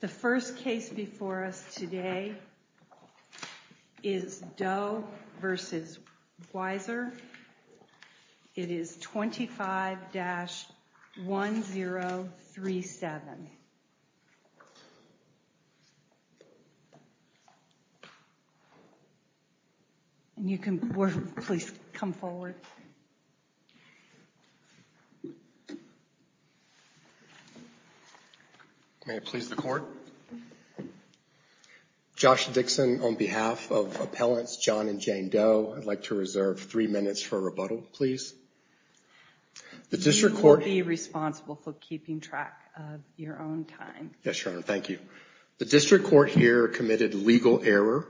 The first case before us today is Doe v. Weiser. It is 25-1037. May I please the court? Josh Dixon on behalf of Appellants John and Jane Doe, I'd like to reserve three minutes for rebuttal, please. You will be responsible for keeping track of your own time. Yes, Your Honor, thank you. The district court here committed legal error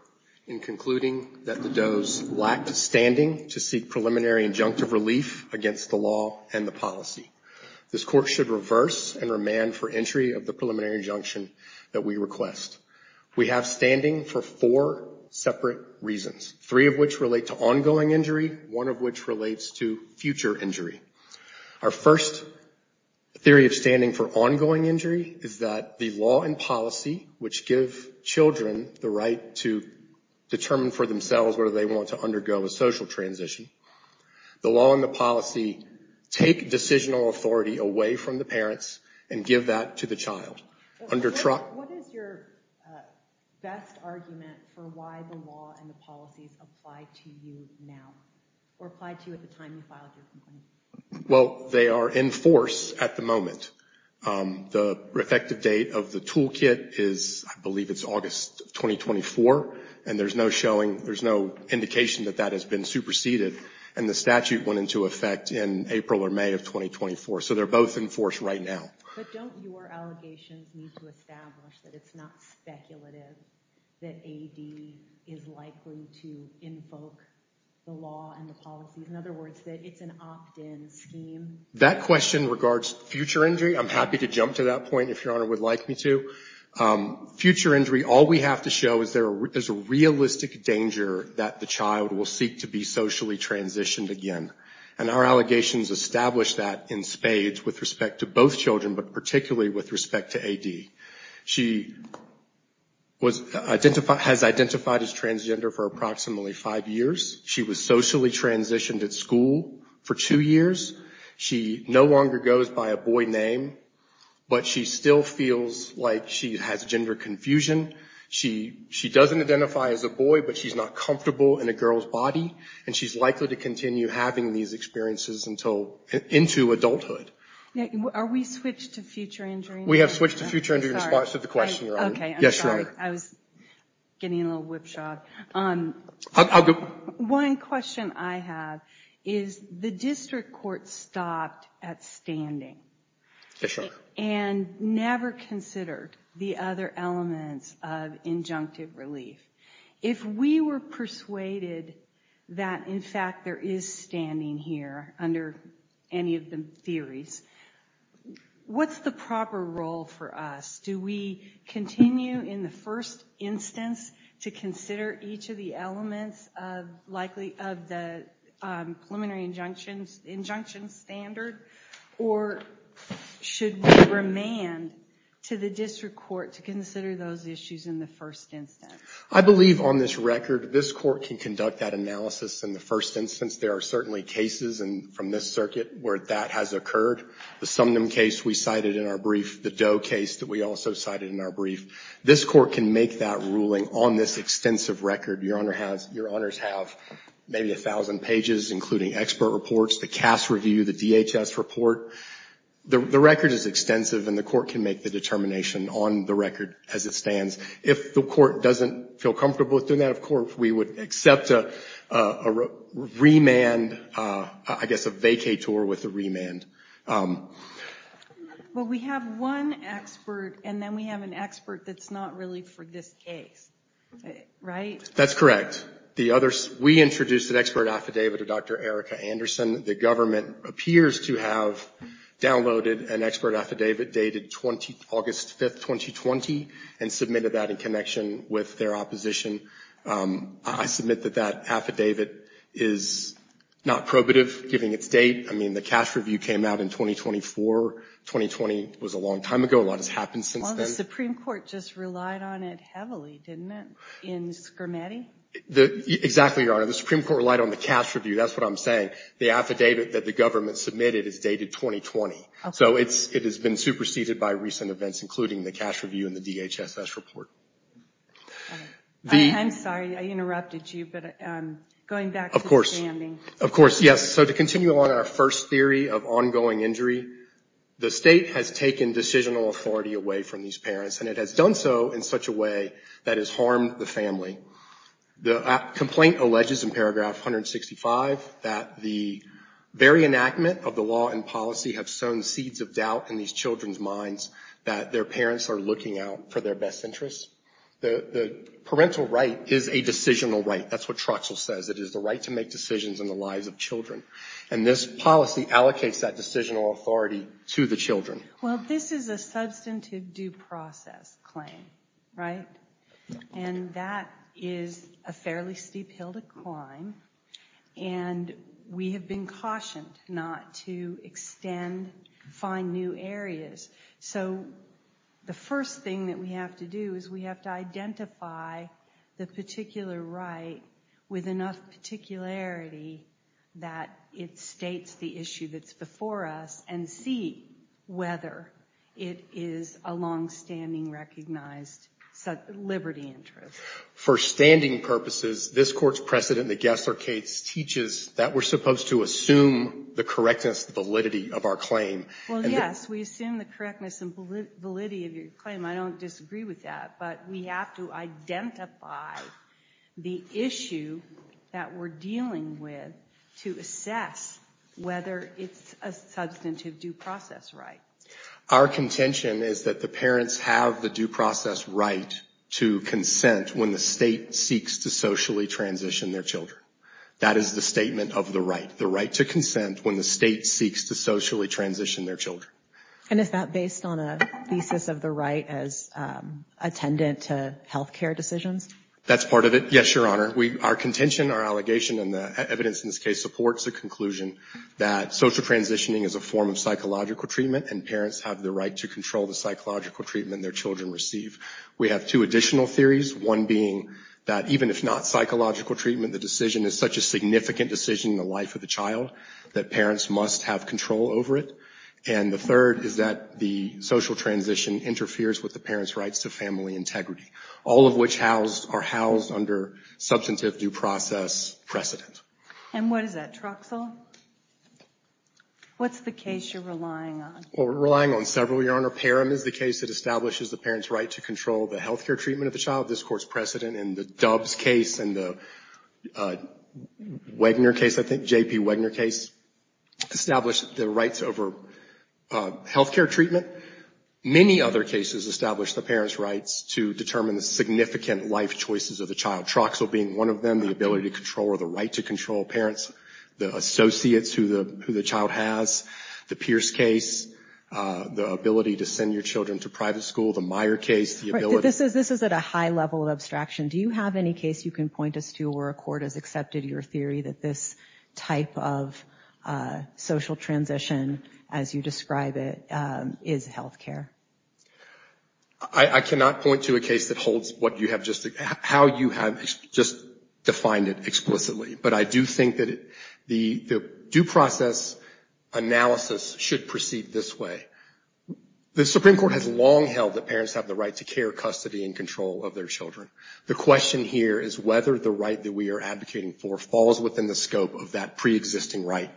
in concluding that the Doe's lacked standing to seek preliminary injunctive relief against the law and the policy. This court should reverse and remand for entry of the preliminary injunction that we request. We have standing for four separate reasons, three of which relate to ongoing injury, one of which relates to future injury. Our first theory of standing for ongoing injury is that the law and policy, which give children the right to determine for themselves whether they want to undergo a social transition, the law and the policy take decisional authority away from the parents and give that to the child. What is your best argument for why the law and the policies apply to you now or apply to you at the time you filed your complaint? Well, they are in force at the moment. The effective date of the toolkit is, I believe it's August 2024, and there's no showing, there's no indication that that has been superseded. And the statute went into effect in April or May of 2024. So they're both in force right now. But don't your allegations need to establish that it's not speculative that AD is likely to invoke the law and the policies? In other words, that it's an opt-in scheme? That question regards future injury. I'm happy to jump to that point if Your Honor would like me to. Future injury, all we have to show is there's a realistic danger that the child will seek to be socially transitioned again. And our allegations establish that in spades with respect to both children, but particularly with respect to AD. She has identified as transgender for approximately five years. She was socially transitioned at school for two years. She no longer goes by a boy name, but she still feels like she has gender confusion. She doesn't identify as a boy, but she's not comfortable in a girl's body. And she's likely to continue having these experiences into adulthood. Are we switched to future injury? We have switched to future injury in response to the question, Your Honor. I'm sorry, I was getting a little whipshot. One question I have is the district court stopped at standing and never considered the other elements of injunctive relief. If we were persuaded that in fact there is standing here under any of the theories, what's the proper role for us? Do we continue in the first instance to consider each of the elements of the preliminary injunction standard? Or should we remand to the district court to consider those issues in the first instance? I believe on this record this court can conduct that analysis in the first instance. There are certainly cases from this circuit where that has occurred. The Sumnum case we cited in our brief, the Doe case that we also cited in our brief. This court can make that ruling on this extensive record. Your Honors have maybe 1,000 pages including expert reports, the CAS review, the DHS report. The record is extensive and the court can make the determination on the record as it stands. If the court doesn't feel comfortable with doing that, of course we would accept a remand, I guess a vacay tour with a remand. We have one expert and then we have an expert that's not really for this case, right? That's correct. We introduced an expert affidavit of Dr. Erica Anderson. The government appears to have downloaded an expert affidavit dated August 5, 2020 and submitted that in connection with their opposition. I submit that that affidavit is not probative given its date. I mean, the CAS review came out in 2024. 2020 was a long time ago. A lot has happened since then. Well, the Supreme Court just relied on it heavily, didn't it, in Schermatty? Exactly, Your Honor. The Supreme Court relied on the CAS review. That's what I'm saying. The affidavit that the government submitted is dated 2020. So it has been superseded by recent events, including the CAS review and the DHSS report. I'm sorry. I interrupted you, but going back to the standing. Of course, yes. So to continue on our first theory of ongoing injury, the state has taken decisional authority away from these parents, and it has done so in such a way that has harmed the family. The complaint alleges in paragraph 165 that the very enactment of the law and policy have sown seeds of doubt in these children's minds that their parents are looking out for their best interests. The parental right is a decisional right. That's what Troxell says. It is the right to make decisions in the lives of children. And this policy allocates that decisional authority to the children. Well, this is a substantive due process claim, right? And that is a fairly steep hill to climb, and we have been cautioned not to extend, find new areas. So the first thing that we have to do is we have to identify the particular right with enough particularity that it states the issue that's before us and see whether it is a longstanding recognized liberty interest. For standing purposes, this Court's precedent in the Gessler case teaches that we're supposed to assume the correctness and validity of our claim. Well, yes, we assume the correctness and validity of your claim. I don't disagree with that, but we have to identify the issue that we're dealing with to assess whether it's a substantive due process right. Our contention is that the parents have the due process right to consent when the state seeks to socially transition their children. That is the statement of the right, the right to consent when the state seeks to socially transition their children. And is that based on a thesis of the right as attendant to health care decisions? That's part of it, yes, Your Honor. Our contention, our allegation, and the evidence in this case supports the conclusion that social transitioning is a form of psychological treatment and parents have the right to control the psychological treatment their children receive. We have two additional theories, one being that even if not psychological treatment, the decision is such a significant decision in the life of the child that parents must have control over it. And the third is that the social transition interferes with the parents' rights to family integrity, all of which are housed under substantive due process precedent. And what is that, Troxell? What's the case you're relying on? Well, we're relying on several, Your Honor. Parham is the case that establishes the parents' right to control the health care treatment of the child. This Court's precedent in the Dubs case and the Wagner case, I think, J.P. Wagner case, established the rights over health care treatment. Many other cases establish the parents' rights to determine the significant life choices of the child, Troxell being one of them, the ability to control or the right to control parents, the associates who the child has, the Pierce case, the ability to send your children to private school, the Meyer case. This is at a high level of abstraction. Do you have any case you can point us to where a court has accepted your theory that this type of social transition, as you describe it, is health care? I cannot point to a case that holds how you have just defined it explicitly. But I do think that the due process analysis should proceed this way. The Supreme Court has long held that parents have the right to care, custody, and control of their children. The question here is whether the right that we are advocating for falls within the scope of that preexisting right,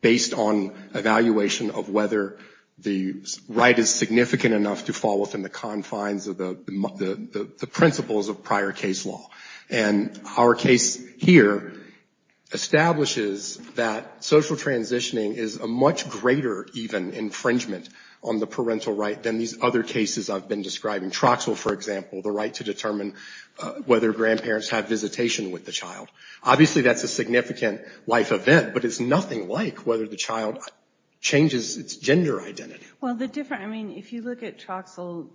based on evaluation of whether the right is significant enough to fall within the confines of the principles of prior case law. And our case here establishes that social transitioning is a much greater even infringement on the parental right than these other cases I've been describing, Troxell, for example, the right to determine whether grandparents have visitation with the child. Obviously, that's a significant life event, but it's nothing like whether the child changes its gender identity. If you look at Troxell,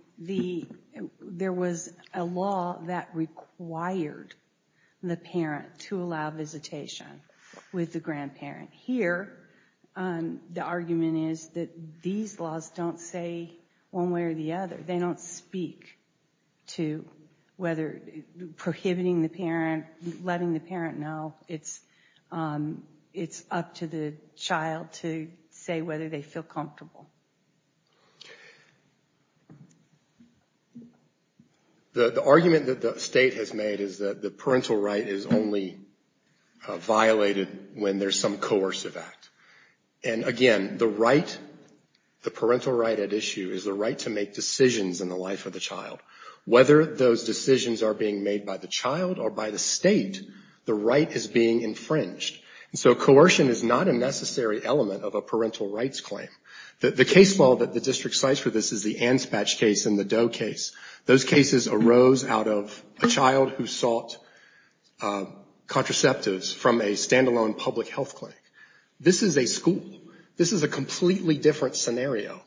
there was a law that required the parent to allow visitation with the grandparent. Here, the argument is that these laws don't say one way or the other. They don't speak to whether prohibiting the parent, letting the parent know, it's up to the child to say whether they feel comfortable. The argument that the state has made is that the parental right is only violated when there's some coercive act. And again, the parental right at issue is the right to make decisions in the life of the child. Whether those decisions are being made by the child or by the state, the right is being infringed. And so coercion is not a necessary element of a parental rights claim. The case law that the district cites for this is the Anspach case and the Doe case. Those cases arose out of a child who sought contraceptives from a standalone public health clinic. This is a school. This is a completely different scenario.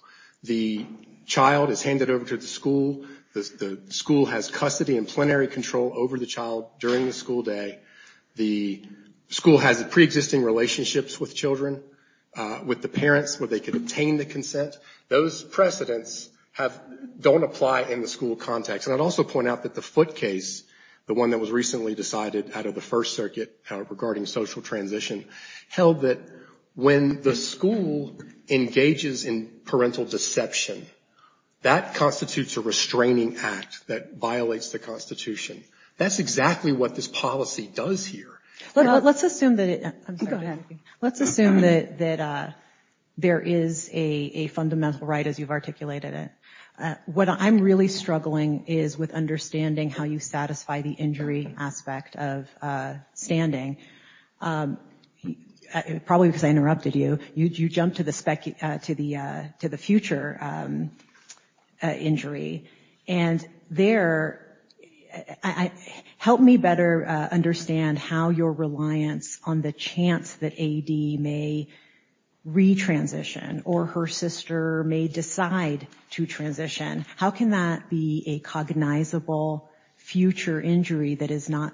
The child is handed over to the school. The school has custody and plenary control over the child during the school day. The school has preexisting relationships with children, with the parents where they can obtain the consent. Those precedents don't apply in the school context. And I'd also point out that the Foote case, the one that was recently decided out of the First Circuit regarding social transition, held that when the school engages in parental deception, that constitutes a restraining act that violates the Constitution. That's exactly what this policy does here. Let's assume that there is a fundamental right as you've articulated it. What I'm really struggling with is understanding how you satisfy the injury aspect of standing. Probably because I interrupted you. You jumped to the future injury. Help me better understand how your reliance on the chance that A.D. may re-transition, or her sister may decide to transition, how can that be a cognizable future injury that is not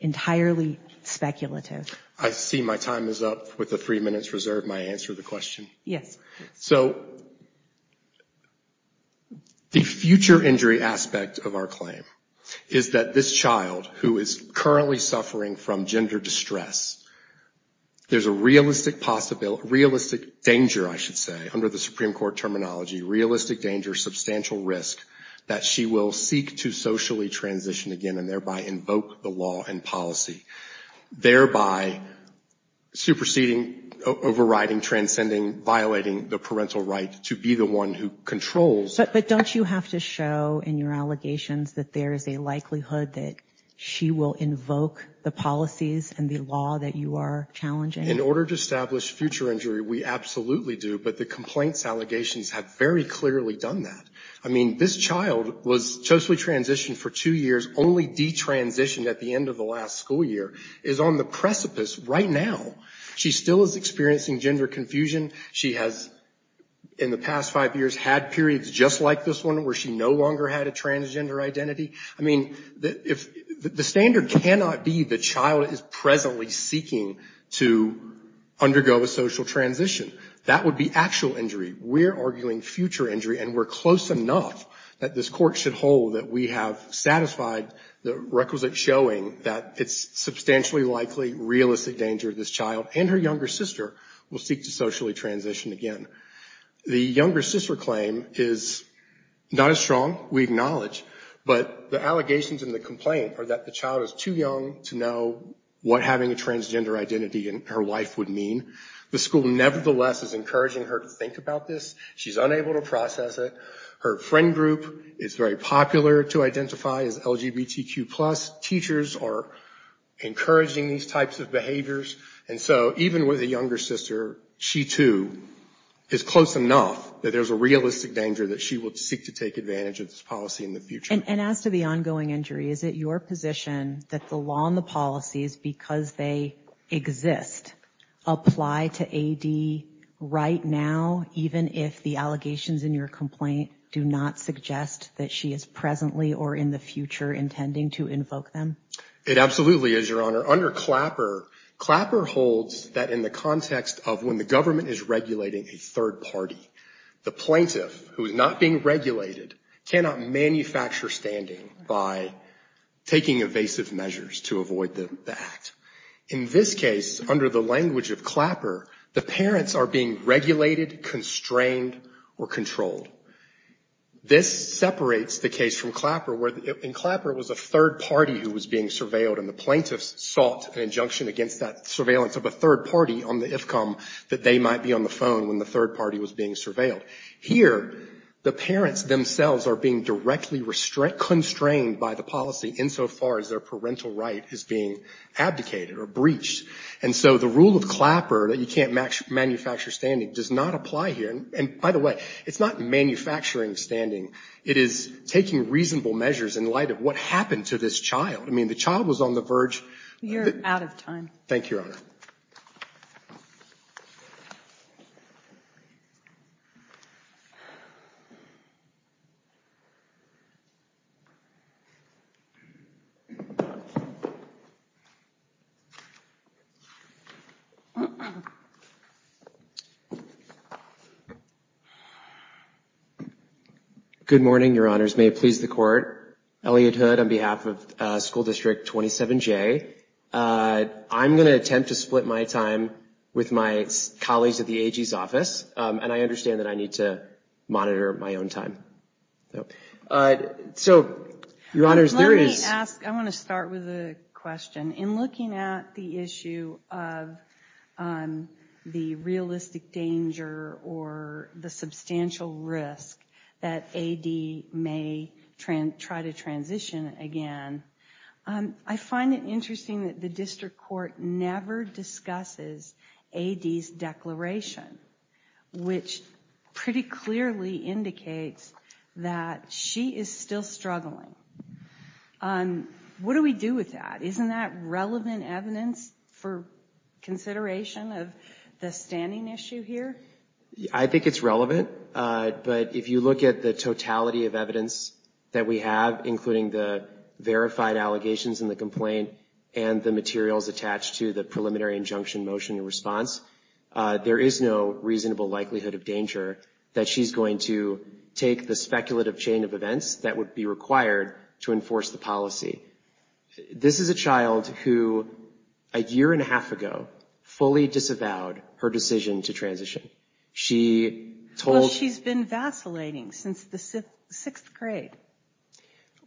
entirely speculative? I see my time is up with the three minutes reserved. May I answer the question? The future injury aspect of our claim is that this child, who is currently suffering from gender distress, there's a realistic danger, I should say, under the Supreme Court terminology, realistic danger, substantial risk, that she will seek to socially transition again and thereby invoke the law and policy. Thereby superseding, overriding, transcending, violating the parental right to be the one who controls. But don't you have to show in your allegations that there is a likelihood that she will invoke the policies and the law that she has? In order to establish future injury, we absolutely do, but the complaints allegations have very clearly done that. I mean, this child was socially transitioned for two years, only de-transitioned at the end of the last school year, is on the precipice right now. She still is experiencing gender confusion. She has, in the past five years, had periods just like this one where she no longer had a transgender identity. I mean, the standard cannot be the child is presently seeking to undergo a social transition. That would be actual injury. We're arguing future injury, and we're close enough that this court should hold that we have satisfied the requisite showing that it's substantially likely, realistic danger, this child and her younger sister will seek to socially transition again. The younger sister claim is not as strong, we acknowledge, but the allegations and the complaint are that the child is too young to know what having a transgender identity in her life would mean. The school, nevertheless, is encouraging her to think about this. She's unable to process it. Her friend group is very popular to identify as LGBTQ+. Teachers are encouraging these types of behaviors. And so even with a younger sister, she, too, is close enough that there's a realistic danger that she will seek to take advantage of this policy in the future. And as to the ongoing injury, is it your position that the law and the policies, because they exist, apply to A.D. right now, even if the allegations in your complaint do not suggest that she is presently or in the future intending to invoke them? It absolutely is, Your Honor. Under Clapper, Clapper holds that in the context of when the government is regulating a third party, the plaintiff, who is not being regulated, cannot manufacture standing by taking evasive measures to avoid the act. In this case, under the language of Clapper, the parents are being regulated, constrained, or controlled. This separates the case from Clapper, where in Clapper it was a third party who was being surveilled, and the plaintiffs sought an injunction against that surveillance of a third party on the IFCOM that they might be on the phone when the third party was being surveilled. Here, the parents themselves are being directly constrained by the policy insofar as their parental right is being abdicated or breached. And so the rule of Clapper that you can't manufacture standing does not apply here. And by the way, it's not mandatory. It is taking reasonable measures in light of what happened to this child. I mean, the child was on the verge of... You're out of time. Thank you, Your Honor. Good morning, Your Honors. May it please the Court. Elliot Hood on behalf of School District 27J. I'm going to attempt to split my time with my colleagues at the AG's office, and I understand that I need to monitor my own time. So, Your Honors, there is... Let me ask... I want to start with a question. In looking at the issue of the realistic danger or the substantial risk of the child's death, the risk that AD may try to transition again, I find it interesting that the district court never discusses AD's declaration, which pretty clearly indicates that she is still struggling. What do we do with that? Isn't that relevant evidence for consideration of the standing issue here? I think it's relevant, but if you look at the totality of evidence that we have, including the verified allegations in the complaint, and the materials attached to the preliminary injunction motion in response, there is no reasonable likelihood of danger that she's going to take the speculative chain of events that would be required to enforce the policy. This is a child who, a year and a half ago, fully disavowed her decision to transition. She told... Well, she's been vacillating since the sixth grade.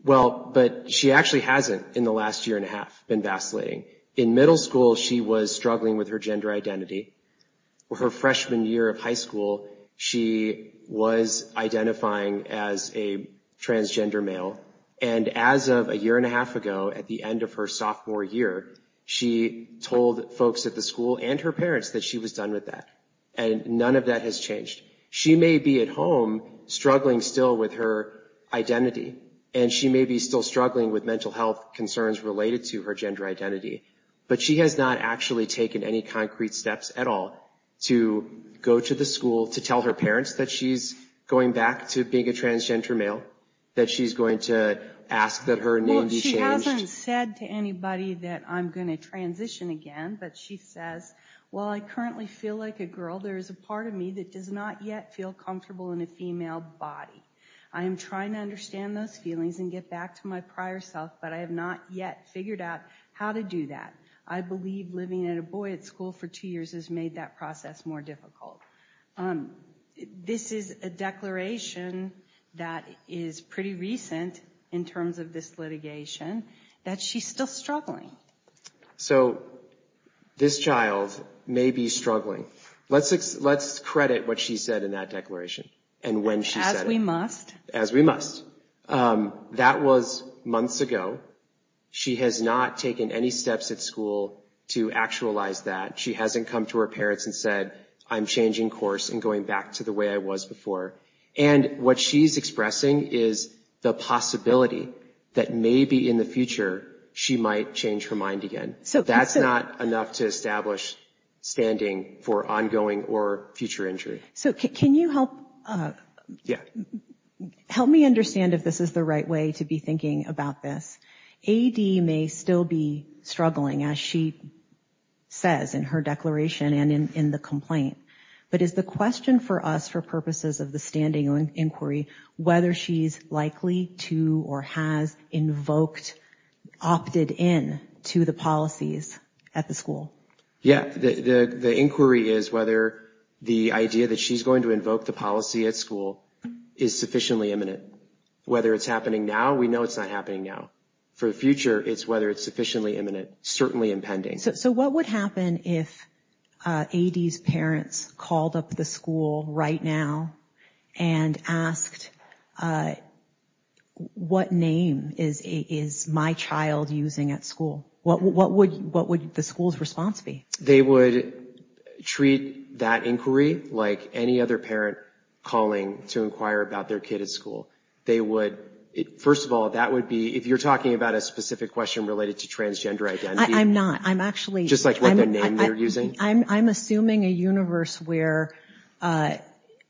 Well, but she actually hasn't, in the last year and a half, been vacillating. In middle school, she was struggling with her gender identity. Her freshman year of high school, she was identifying as a transgender male, and as of a year and a half ago, at the end of her sophomore year, she told folks at the school and her parents that she was done with that, and none of that has changed. She may be at home struggling still with her identity, and she may be still struggling with mental health concerns related to her gender identity, but she has not actually taken any concrete steps at all to go to the school to tell her parents that she's going back to being a transgender male, that she's going to ask that her name be changed. She hasn't said to anybody that I'm going to transition again, but she says, while I currently feel like a girl, there is a part of me that does not yet feel comfortable in a female body. I am trying to understand those feelings and get back to my prior self, but I have not yet figured out how to do that. I believe living as a boy at school for two years has made that process more difficult. This is a declaration that is pretty recent in terms of this issue, but it's a declaration that she's still struggling. So, this child may be struggling. Let's credit what she said in that declaration, and when she said it. As we must. As we must. That was months ago. She has not taken any steps at school to actualize that. She hasn't come to her parents and said, I'm changing course and going back to the way I was before. And what she's expressing is the possibility that maybe in the future, she might change her mind again. That's not enough to establish standing for ongoing or future injury. So, can you help me understand if this is the right way to be thinking about this? AD may still be struggling, as she says in her declaration and in the statement. So, can you question for us, for purposes of the standing inquiry, whether she's likely to or has invoked, opted in to the policies at the school? Yeah. The inquiry is whether the idea that she's going to invoke the policy at school is sufficiently imminent. Whether it's happening now, we know it's not happening now. For the future, it's whether it's sufficiently imminent, certainly impending. So, what would happen if AD's parents called up the school right now and asked, what name is my child using at school? What would the school's response be? They would treat that inquiry like any other parent calling to inquire about their kid at school. They would, first of all, that would be, if you're asking a specific question related to transgender identity, just like what their name they're using. I'm not. I'm assuming a universe where AD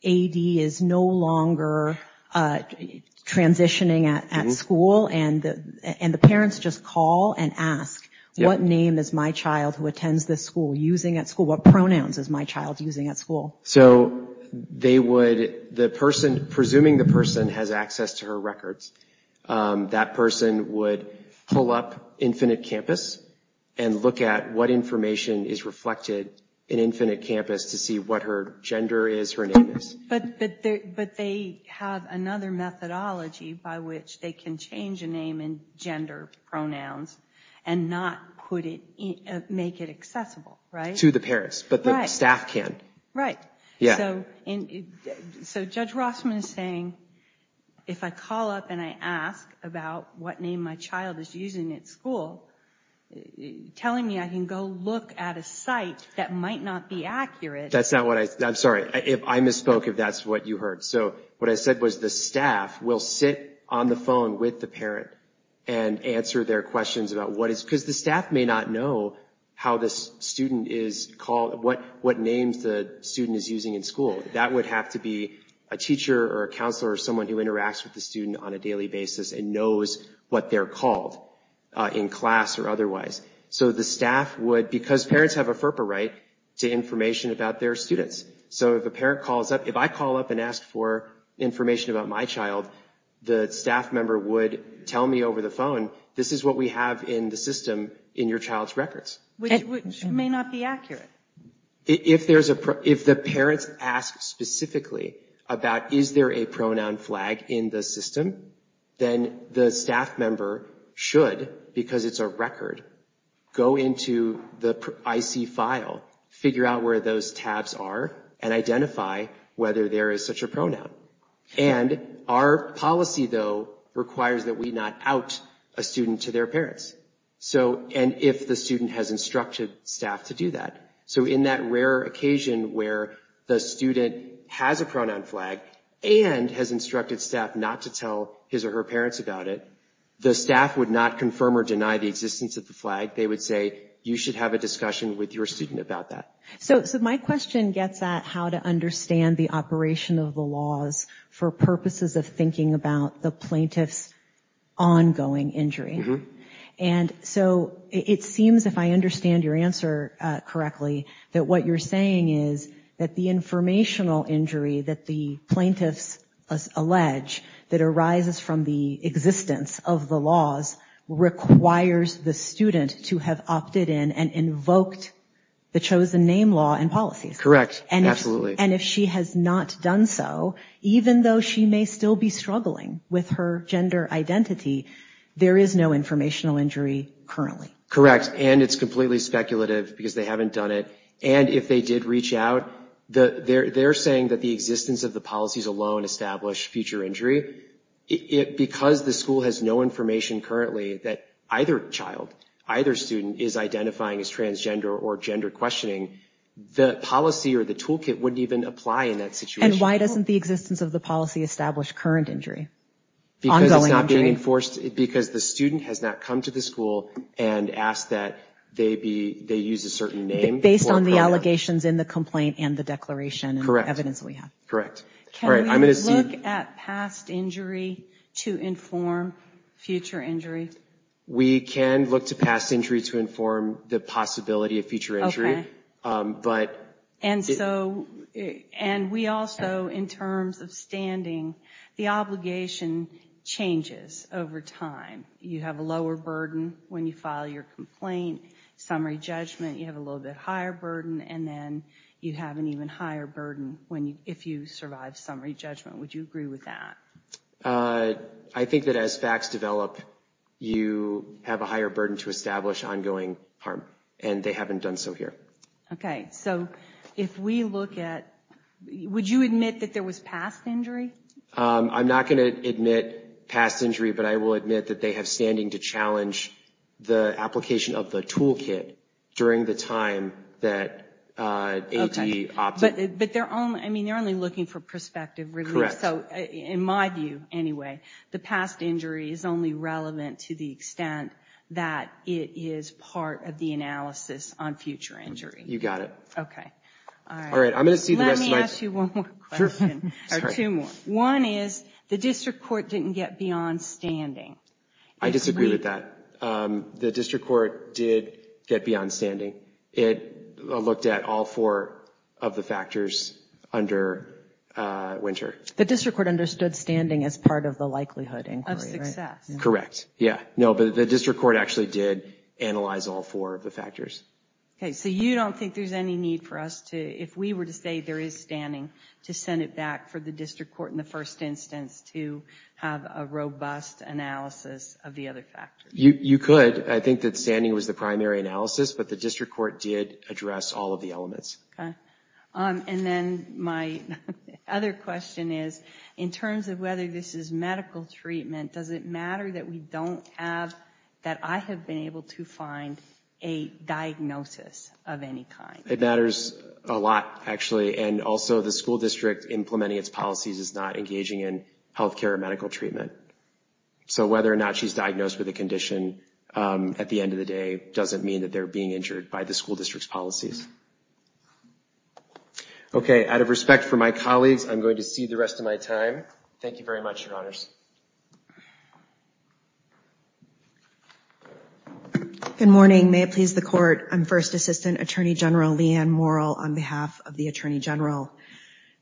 is no longer transitioning at school, and the parents just call and ask, what name is my child who attends this school using at school? What pronouns is my child using at school? So, they would, the person, presuming the person has access to her records, that person would pull up Infinite Campus and look at what information is reflected in Infinite Campus to see what her gender is, her name is. But they have another methodology by which they can change a name and gender pronouns and not make it accessible, right? To the parents, but the staff can. Right. So, Judge Rossman is saying, if I call up and I ask about what name my child is using at school, telling me I can go look at a site that might not be accurate. That's not what I, I'm sorry, I misspoke if that's what you heard. So, what I said was the staff will sit on the phone with the parent and answer their question, but they would not know how this student is called, what name the student is using in school. That would have to be a teacher or a counselor or someone who interacts with the student on a daily basis and knows what they're called in class or otherwise. So, the staff would, because parents have a FERPA right to information about their students. So, if a parent calls up, if I call up and ask for information about my child, the staff member would tell me over the phone, this is what we have in the child's records. Which may not be accurate. If the parents ask specifically about, is there a pronoun flag in the system, then the staff member should, because it's a record, go into the IC file, figure out where those tabs are and identify whether there is such a pronoun. And our policy, though, requires that we not out a student to their parents. So, and if the student has instructed staff to do that. So, in that rare occasion where the student has a pronoun flag and has instructed staff not to tell his or her parents about it, the staff would not confirm or deny the existence of the flag. They would say, you should have a discussion with your student about that. So, my question gets at how to understand the operation of the laws for purposes of thinking about the plaintiff's ongoing injury. And so, it seems, if I understand your answer correctly, that what you're saying is that the informational injury that the plaintiffs allege that arises from the existence of the laws requires the student to have opted in and invoked the chosen name law and policies. Correct. Absolutely. And if she has not done so, even though she may still be struggling with her gender identity, there is no informational injury currently. Correct. And it's completely speculative because they haven't done it. And if they did reach out, they're saying that the existence of the policies alone established future injury. Because the school has no information currently that either child, either student is identifying as transgender or gender questioning, the policy or the toolkit wouldn't even apply in that situation. And why doesn't the existence of the policy establish current injury? Because it's not being enforced, because the student has not come to the school and asked that they use a certain name. Based on the allegations in the complaint and the declaration and the evidence that we have. Correct. Can we look at past injury to inform future injury? We can look to past injury to inform the possibility of future injury. And we also, in terms of standing, the obligation changes over time. You have a lower burden when you file your complaint. Summary judgment, you have a little bit higher burden. And then you have an even higher burden if you survive summary judgment. Would you agree with that? I think that as facts develop, you have a higher burden to establish ongoing harm. And they haven't done so here. Okay. So if we look at, would you admit that there was past injury? I'm not going to admit past injury, but I will admit that they have standing to challenge the application of the toolkit during the time that ATE opted. But they're only looking for prospective relief. In my view, anyway, the past injury is only relevant to the extent that it is part of the analysis on future injury. You got it. Let me ask you one more question. One is, the district court didn't get beyond standing. I disagree with that. The district court did get beyond standing. It looked at all four of the factors under Winter. The district court understood standing as part of the likelihood inquiry, right? Correct. Yeah. No, but the district court actually did analyze all four of the factors. Okay. So you don't think there's any need for us to, if we were to say there is standing, to send it back for the district court in the first instance to have a robust analysis of the other factors? You could. I think that standing was the primary analysis, but the district court did address all of the elements. Okay. And then my other question is, in terms of whether this is medical treatment, does it matter that we don't have, that I have been able to find a diagnosis of any kind? It matters a lot, actually. And also, the school district implementing its policies is not engaging in any kind of clinical trials. It's not engaging in any kind of healthcare or medical treatment. So whether or not she's diagnosed with a condition at the end of the day doesn't mean that they're being injured by the school district's policies. Okay. Out of respect for my colleagues, I'm going to cede the rest of my time. Thank you very much, Your Honors. Good morning. May it please the Court. I'm First Assistant Attorney General Leigh Ann Morrill on behalf of the Attorney General.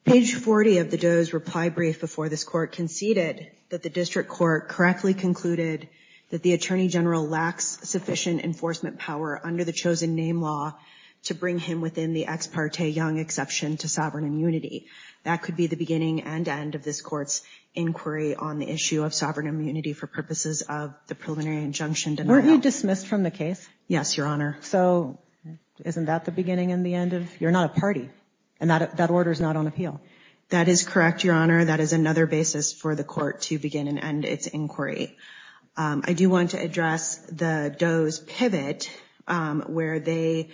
Page 40 of the Doe's reply brief before this Court conceded that the district court correctly concluded that the Attorney General lacks sufficient enforcement power under the chosen name law to bring him within the ex parte Young exception to sovereign immunity. That could be the beginning and end of this Court's inquiry on the issue of sovereign immunity for purposes of the preliminary injunction denial. Weren't you dismissed from the case? Yes, Your Honor. So isn't that the beginning and the end of it? You're not a party. And that order is not on appeal. That is correct, Your Honor. That is another basis for the Court to begin and end its inquiry. I do want to address the Doe's pivot where they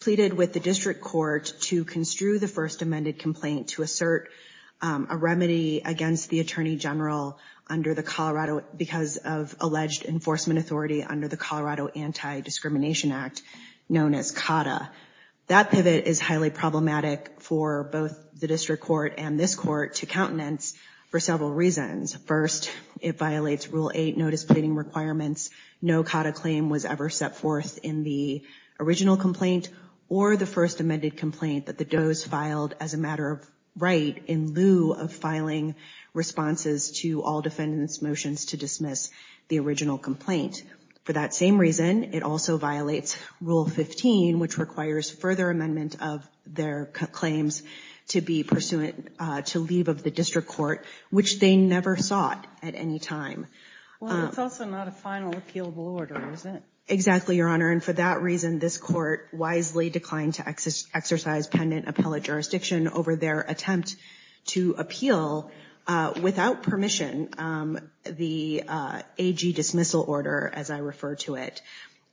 pleaded with the district court to construe the first amended complaint to assert a remedy against the Attorney General because of alleged enforcement authority under the Colorado Anti-Discrimination Act. That pivot is highly problematic for both the district court and this Court to countenance for several reasons. First, it violates Rule 8 notice pleading requirements. No CAUDA claim was ever set forth in the original complaint or the first amended complaint that the Doe's filed as a matter of right in lieu of filing responses to all defendants' motions to dismiss the original complaint. For that same reason, it also violates Rule 15, which requires further amendment of their claims to be pursuant to leave of the district court, which they never sought at any time. Well, it's also not a final appealable order, is it? Exactly, Your Honor. And for that reason, this Court wisely declined to exercise pendant appellate jurisdiction over their attempt to appeal without permission the AG dismissal order, as I refer to it.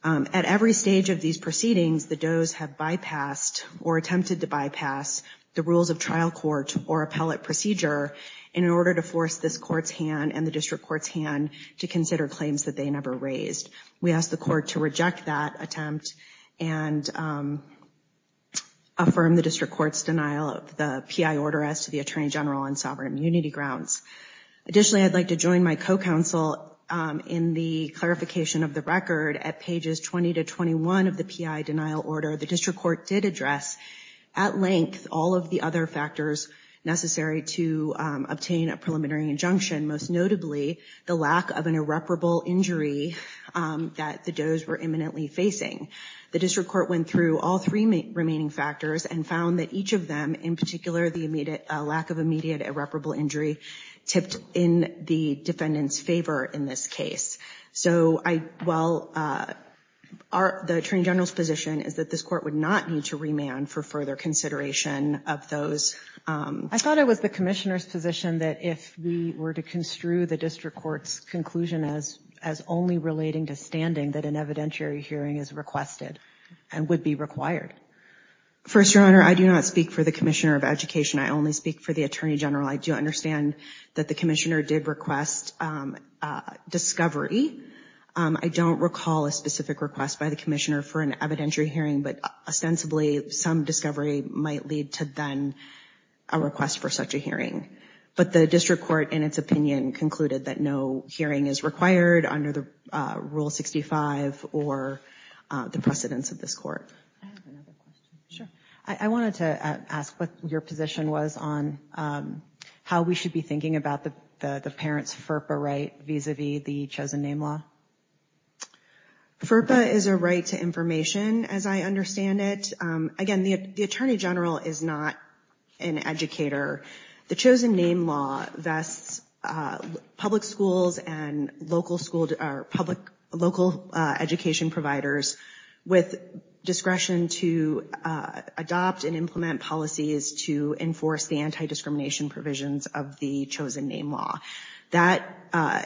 At every stage of these proceedings, the Doe's have bypassed or attempted to bypass the rules of trial court or appellate procedure in order to force this Court's hand and the district court's hand to consider claims that they never raised. We ask the Court to reject that attempt and affirm the district court's denial of the PI order as to the Attorney General on sovereign immunity grounds. Additionally, I'd like to join my co-counsel in the clarification of the record at pages 20 to 21 of the PI denial order. The district court did address at length all of the other factors necessary to obtain a preliminary injunction, most notably the lack of an irreparable injury that the Doe's were imminently facing. The district court went through all three remaining factors and found that each of them, in particular the lack of immediate irreparable injury tipped in the defendant's favor in this case. The Attorney General's position is that this Court would not need to remand for further consideration of those. I thought it was the Commissioner's position that if we were to construe the district court's conclusion as only relating to standing, that an evidentiary hearing is requested and would be required. First, Your Honor, I do not speak for the Commissioner of Education. I only speak for the Attorney General. I do understand that the Commissioner did request discovery. I don't recall a specific request by the Commissioner for an evidentiary hearing, but ostensibly some discovery might lead to then a request for such a hearing. But the district court, in its opinion, concluded that no hearing is required under the Rule 65 or the precedence of this Court. I wanted to ask what your position was on how we should be thinking about the parent's FERPA right vis-a-vis the Chosen Name Law. FERPA is a right to information, as I understand it. Again, the Attorney General is not an educator. The Chosen Name Law vests public schools and local education providers with discretion to provide information on the right to adopt and implement policies to enforce the anti-discrimination provisions of the Chosen Name Law. That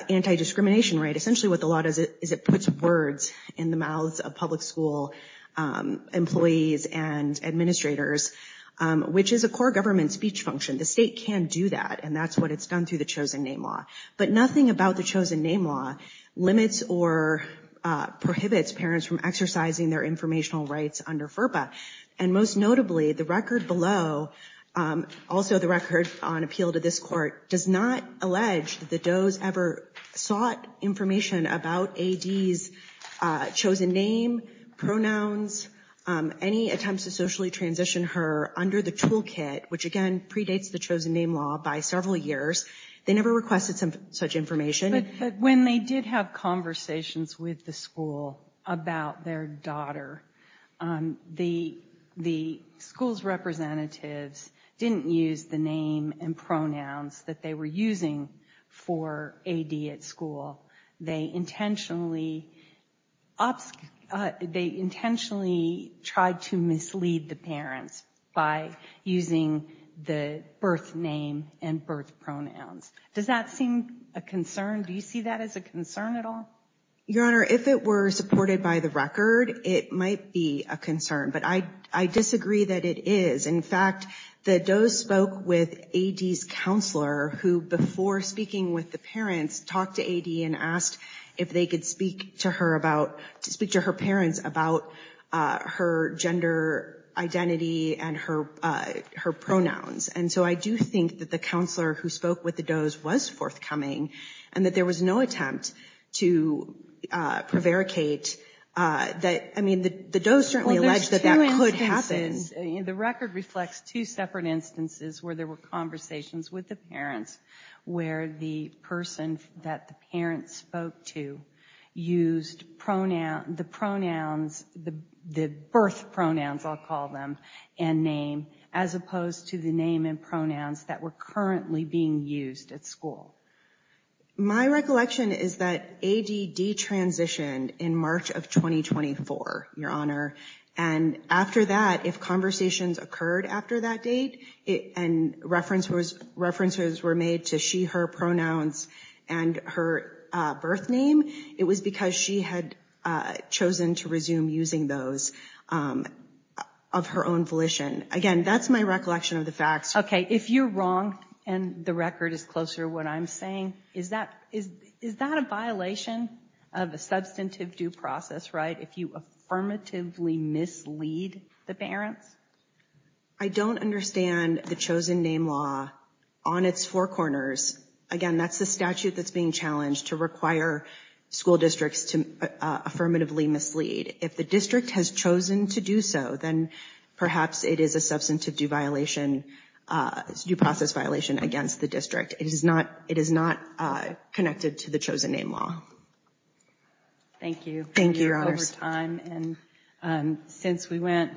anti-discrimination right, essentially what the law does is it puts words in the mouths of public school employees and administrators, which is a core government speech function. The state can do that, and that's what it's done through the Chosen Name Law. But nothing about the Chosen Name Law limits or prohibits parents from exercising their informational rights under FERPA. And most notably, the record below, also the record on appeal to this Court, does not allege that the Doe's ever sought information about A.D.'s chosen name, pronouns, any attempts to socially transition her under the toolkit, which again, predates the Chosen Name Law by several years. They never requested such information. But when they did have conversations with the school about their daughter, the Doe's never requested such information. The school's representatives didn't use the name and pronouns that they were using for A.D. at school. They intentionally tried to mislead the parents by using the birth name and birth pronouns. Does that seem a concern? Do you see that as a concern at all? I disagree that it is. In fact, the Doe's spoke with A.D.'s counselor who, before speaking with the parents, talked to A.D. and asked if they could speak to her parents about her gender identity and her pronouns. And so I do think that the counselor who spoke with the Doe's was forthcoming, and that there was no attempt to mislead the parents. The record reflects two separate instances where there were conversations with the parents where the person that the parents spoke to used the birth pronouns, I'll call them, and name, as opposed to the name and pronouns that were currently being used at school. My recollection is that A.D. detransitioned in March of 2024, Your Honor, and after that, A.D. said that if conversations occurred after that date and references were made to she, her pronouns and her birth name, it was because she had chosen to resume using those of her own volition. Again, that's my recollection of the facts. Okay. If you're wrong, and the record is closer to what I'm saying, is that a violation of a substantive due process, right? If you affirmatively mislead the parents? I don't understand the chosen name law on its four corners. Again, that's the statute that's being challenged to require school districts to affirmatively mislead. If the district has chosen to do so, then perhaps it is a substantive due violation, due process violation against the district. It is not connected to the chosen name law. Thank you. You're over time. And since we went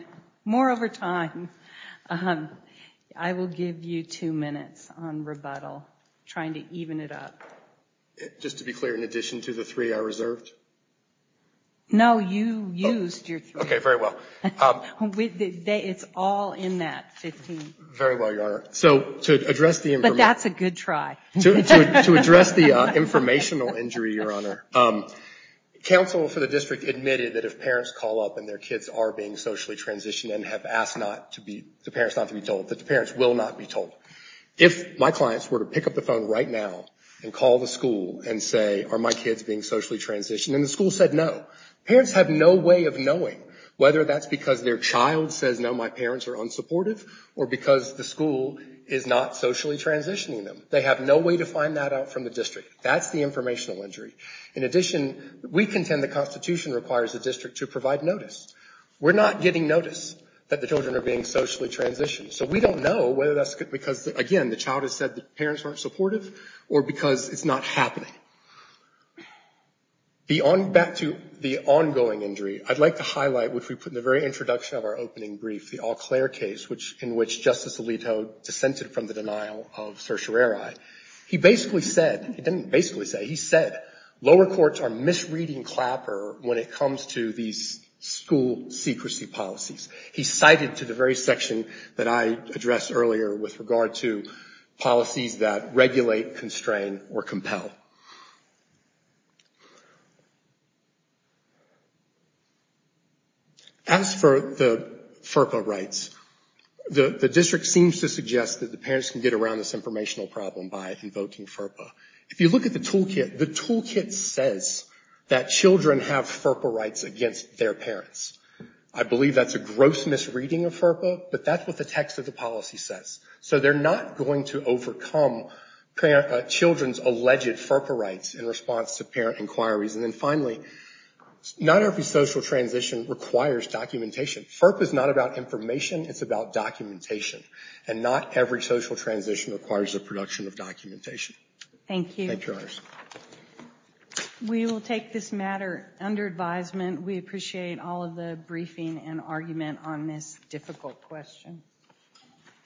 more over time, I will give you two minutes on rebuttal, trying to even it up. Just to be clear, in addition to the three I reserved? No, you used your three. Okay, very well. It's all in that 15. Very well, Your Honor. But that's a good try. To address the informational injury, Your Honor, counsel for the district admitted that if parents call up and their kids are being socially transitioned and have asked the parents not to be told, that the parents will not be told. If my clients were to pick up the phone right now and call the school and say, are my kids being socially transitioned? And the school said no. Parents have no way of knowing whether that's because their child says no, my parents are unsupportive or because the school is not socially transitioning them. They have no way to find that out from the district. That's the informational injury. In addition, we contend the Constitution requires the district to provide notice. We're not getting notice that the children are being socially transitioned. So we don't know whether that's because, again, the child has said the parents aren't supportive or because it's not happening. Back to the ongoing injury, I'd like to highlight, which we put in the very introduction of our opening brief, the all-clear case, in which Justice Alito dissented from the denial of certiorari. He basically said, he didn't basically say, he said lower courts are misreading Clapper when it comes to these school secrecy policies. He cited to the very section that I addressed earlier with regard to policies that regulate, constrain, or compel. As for the FERPA rights, the district seems to suggest that the parents can get around this informational problem by invoking FERPA. If you look at the toolkit, the toolkit says that children have FERPA rights against their parents. I believe that's a gross misreading of FERPA, but that's what the text of the policy says. So they're not going to overcome children's alleged FERPA rights in response to parent inquiries. And then finally, not every social transition requires documentation. FERPA is not about information, it's about documentation. And not every social transition requires the production of documentation. Thank you. Thank you, Your Honors.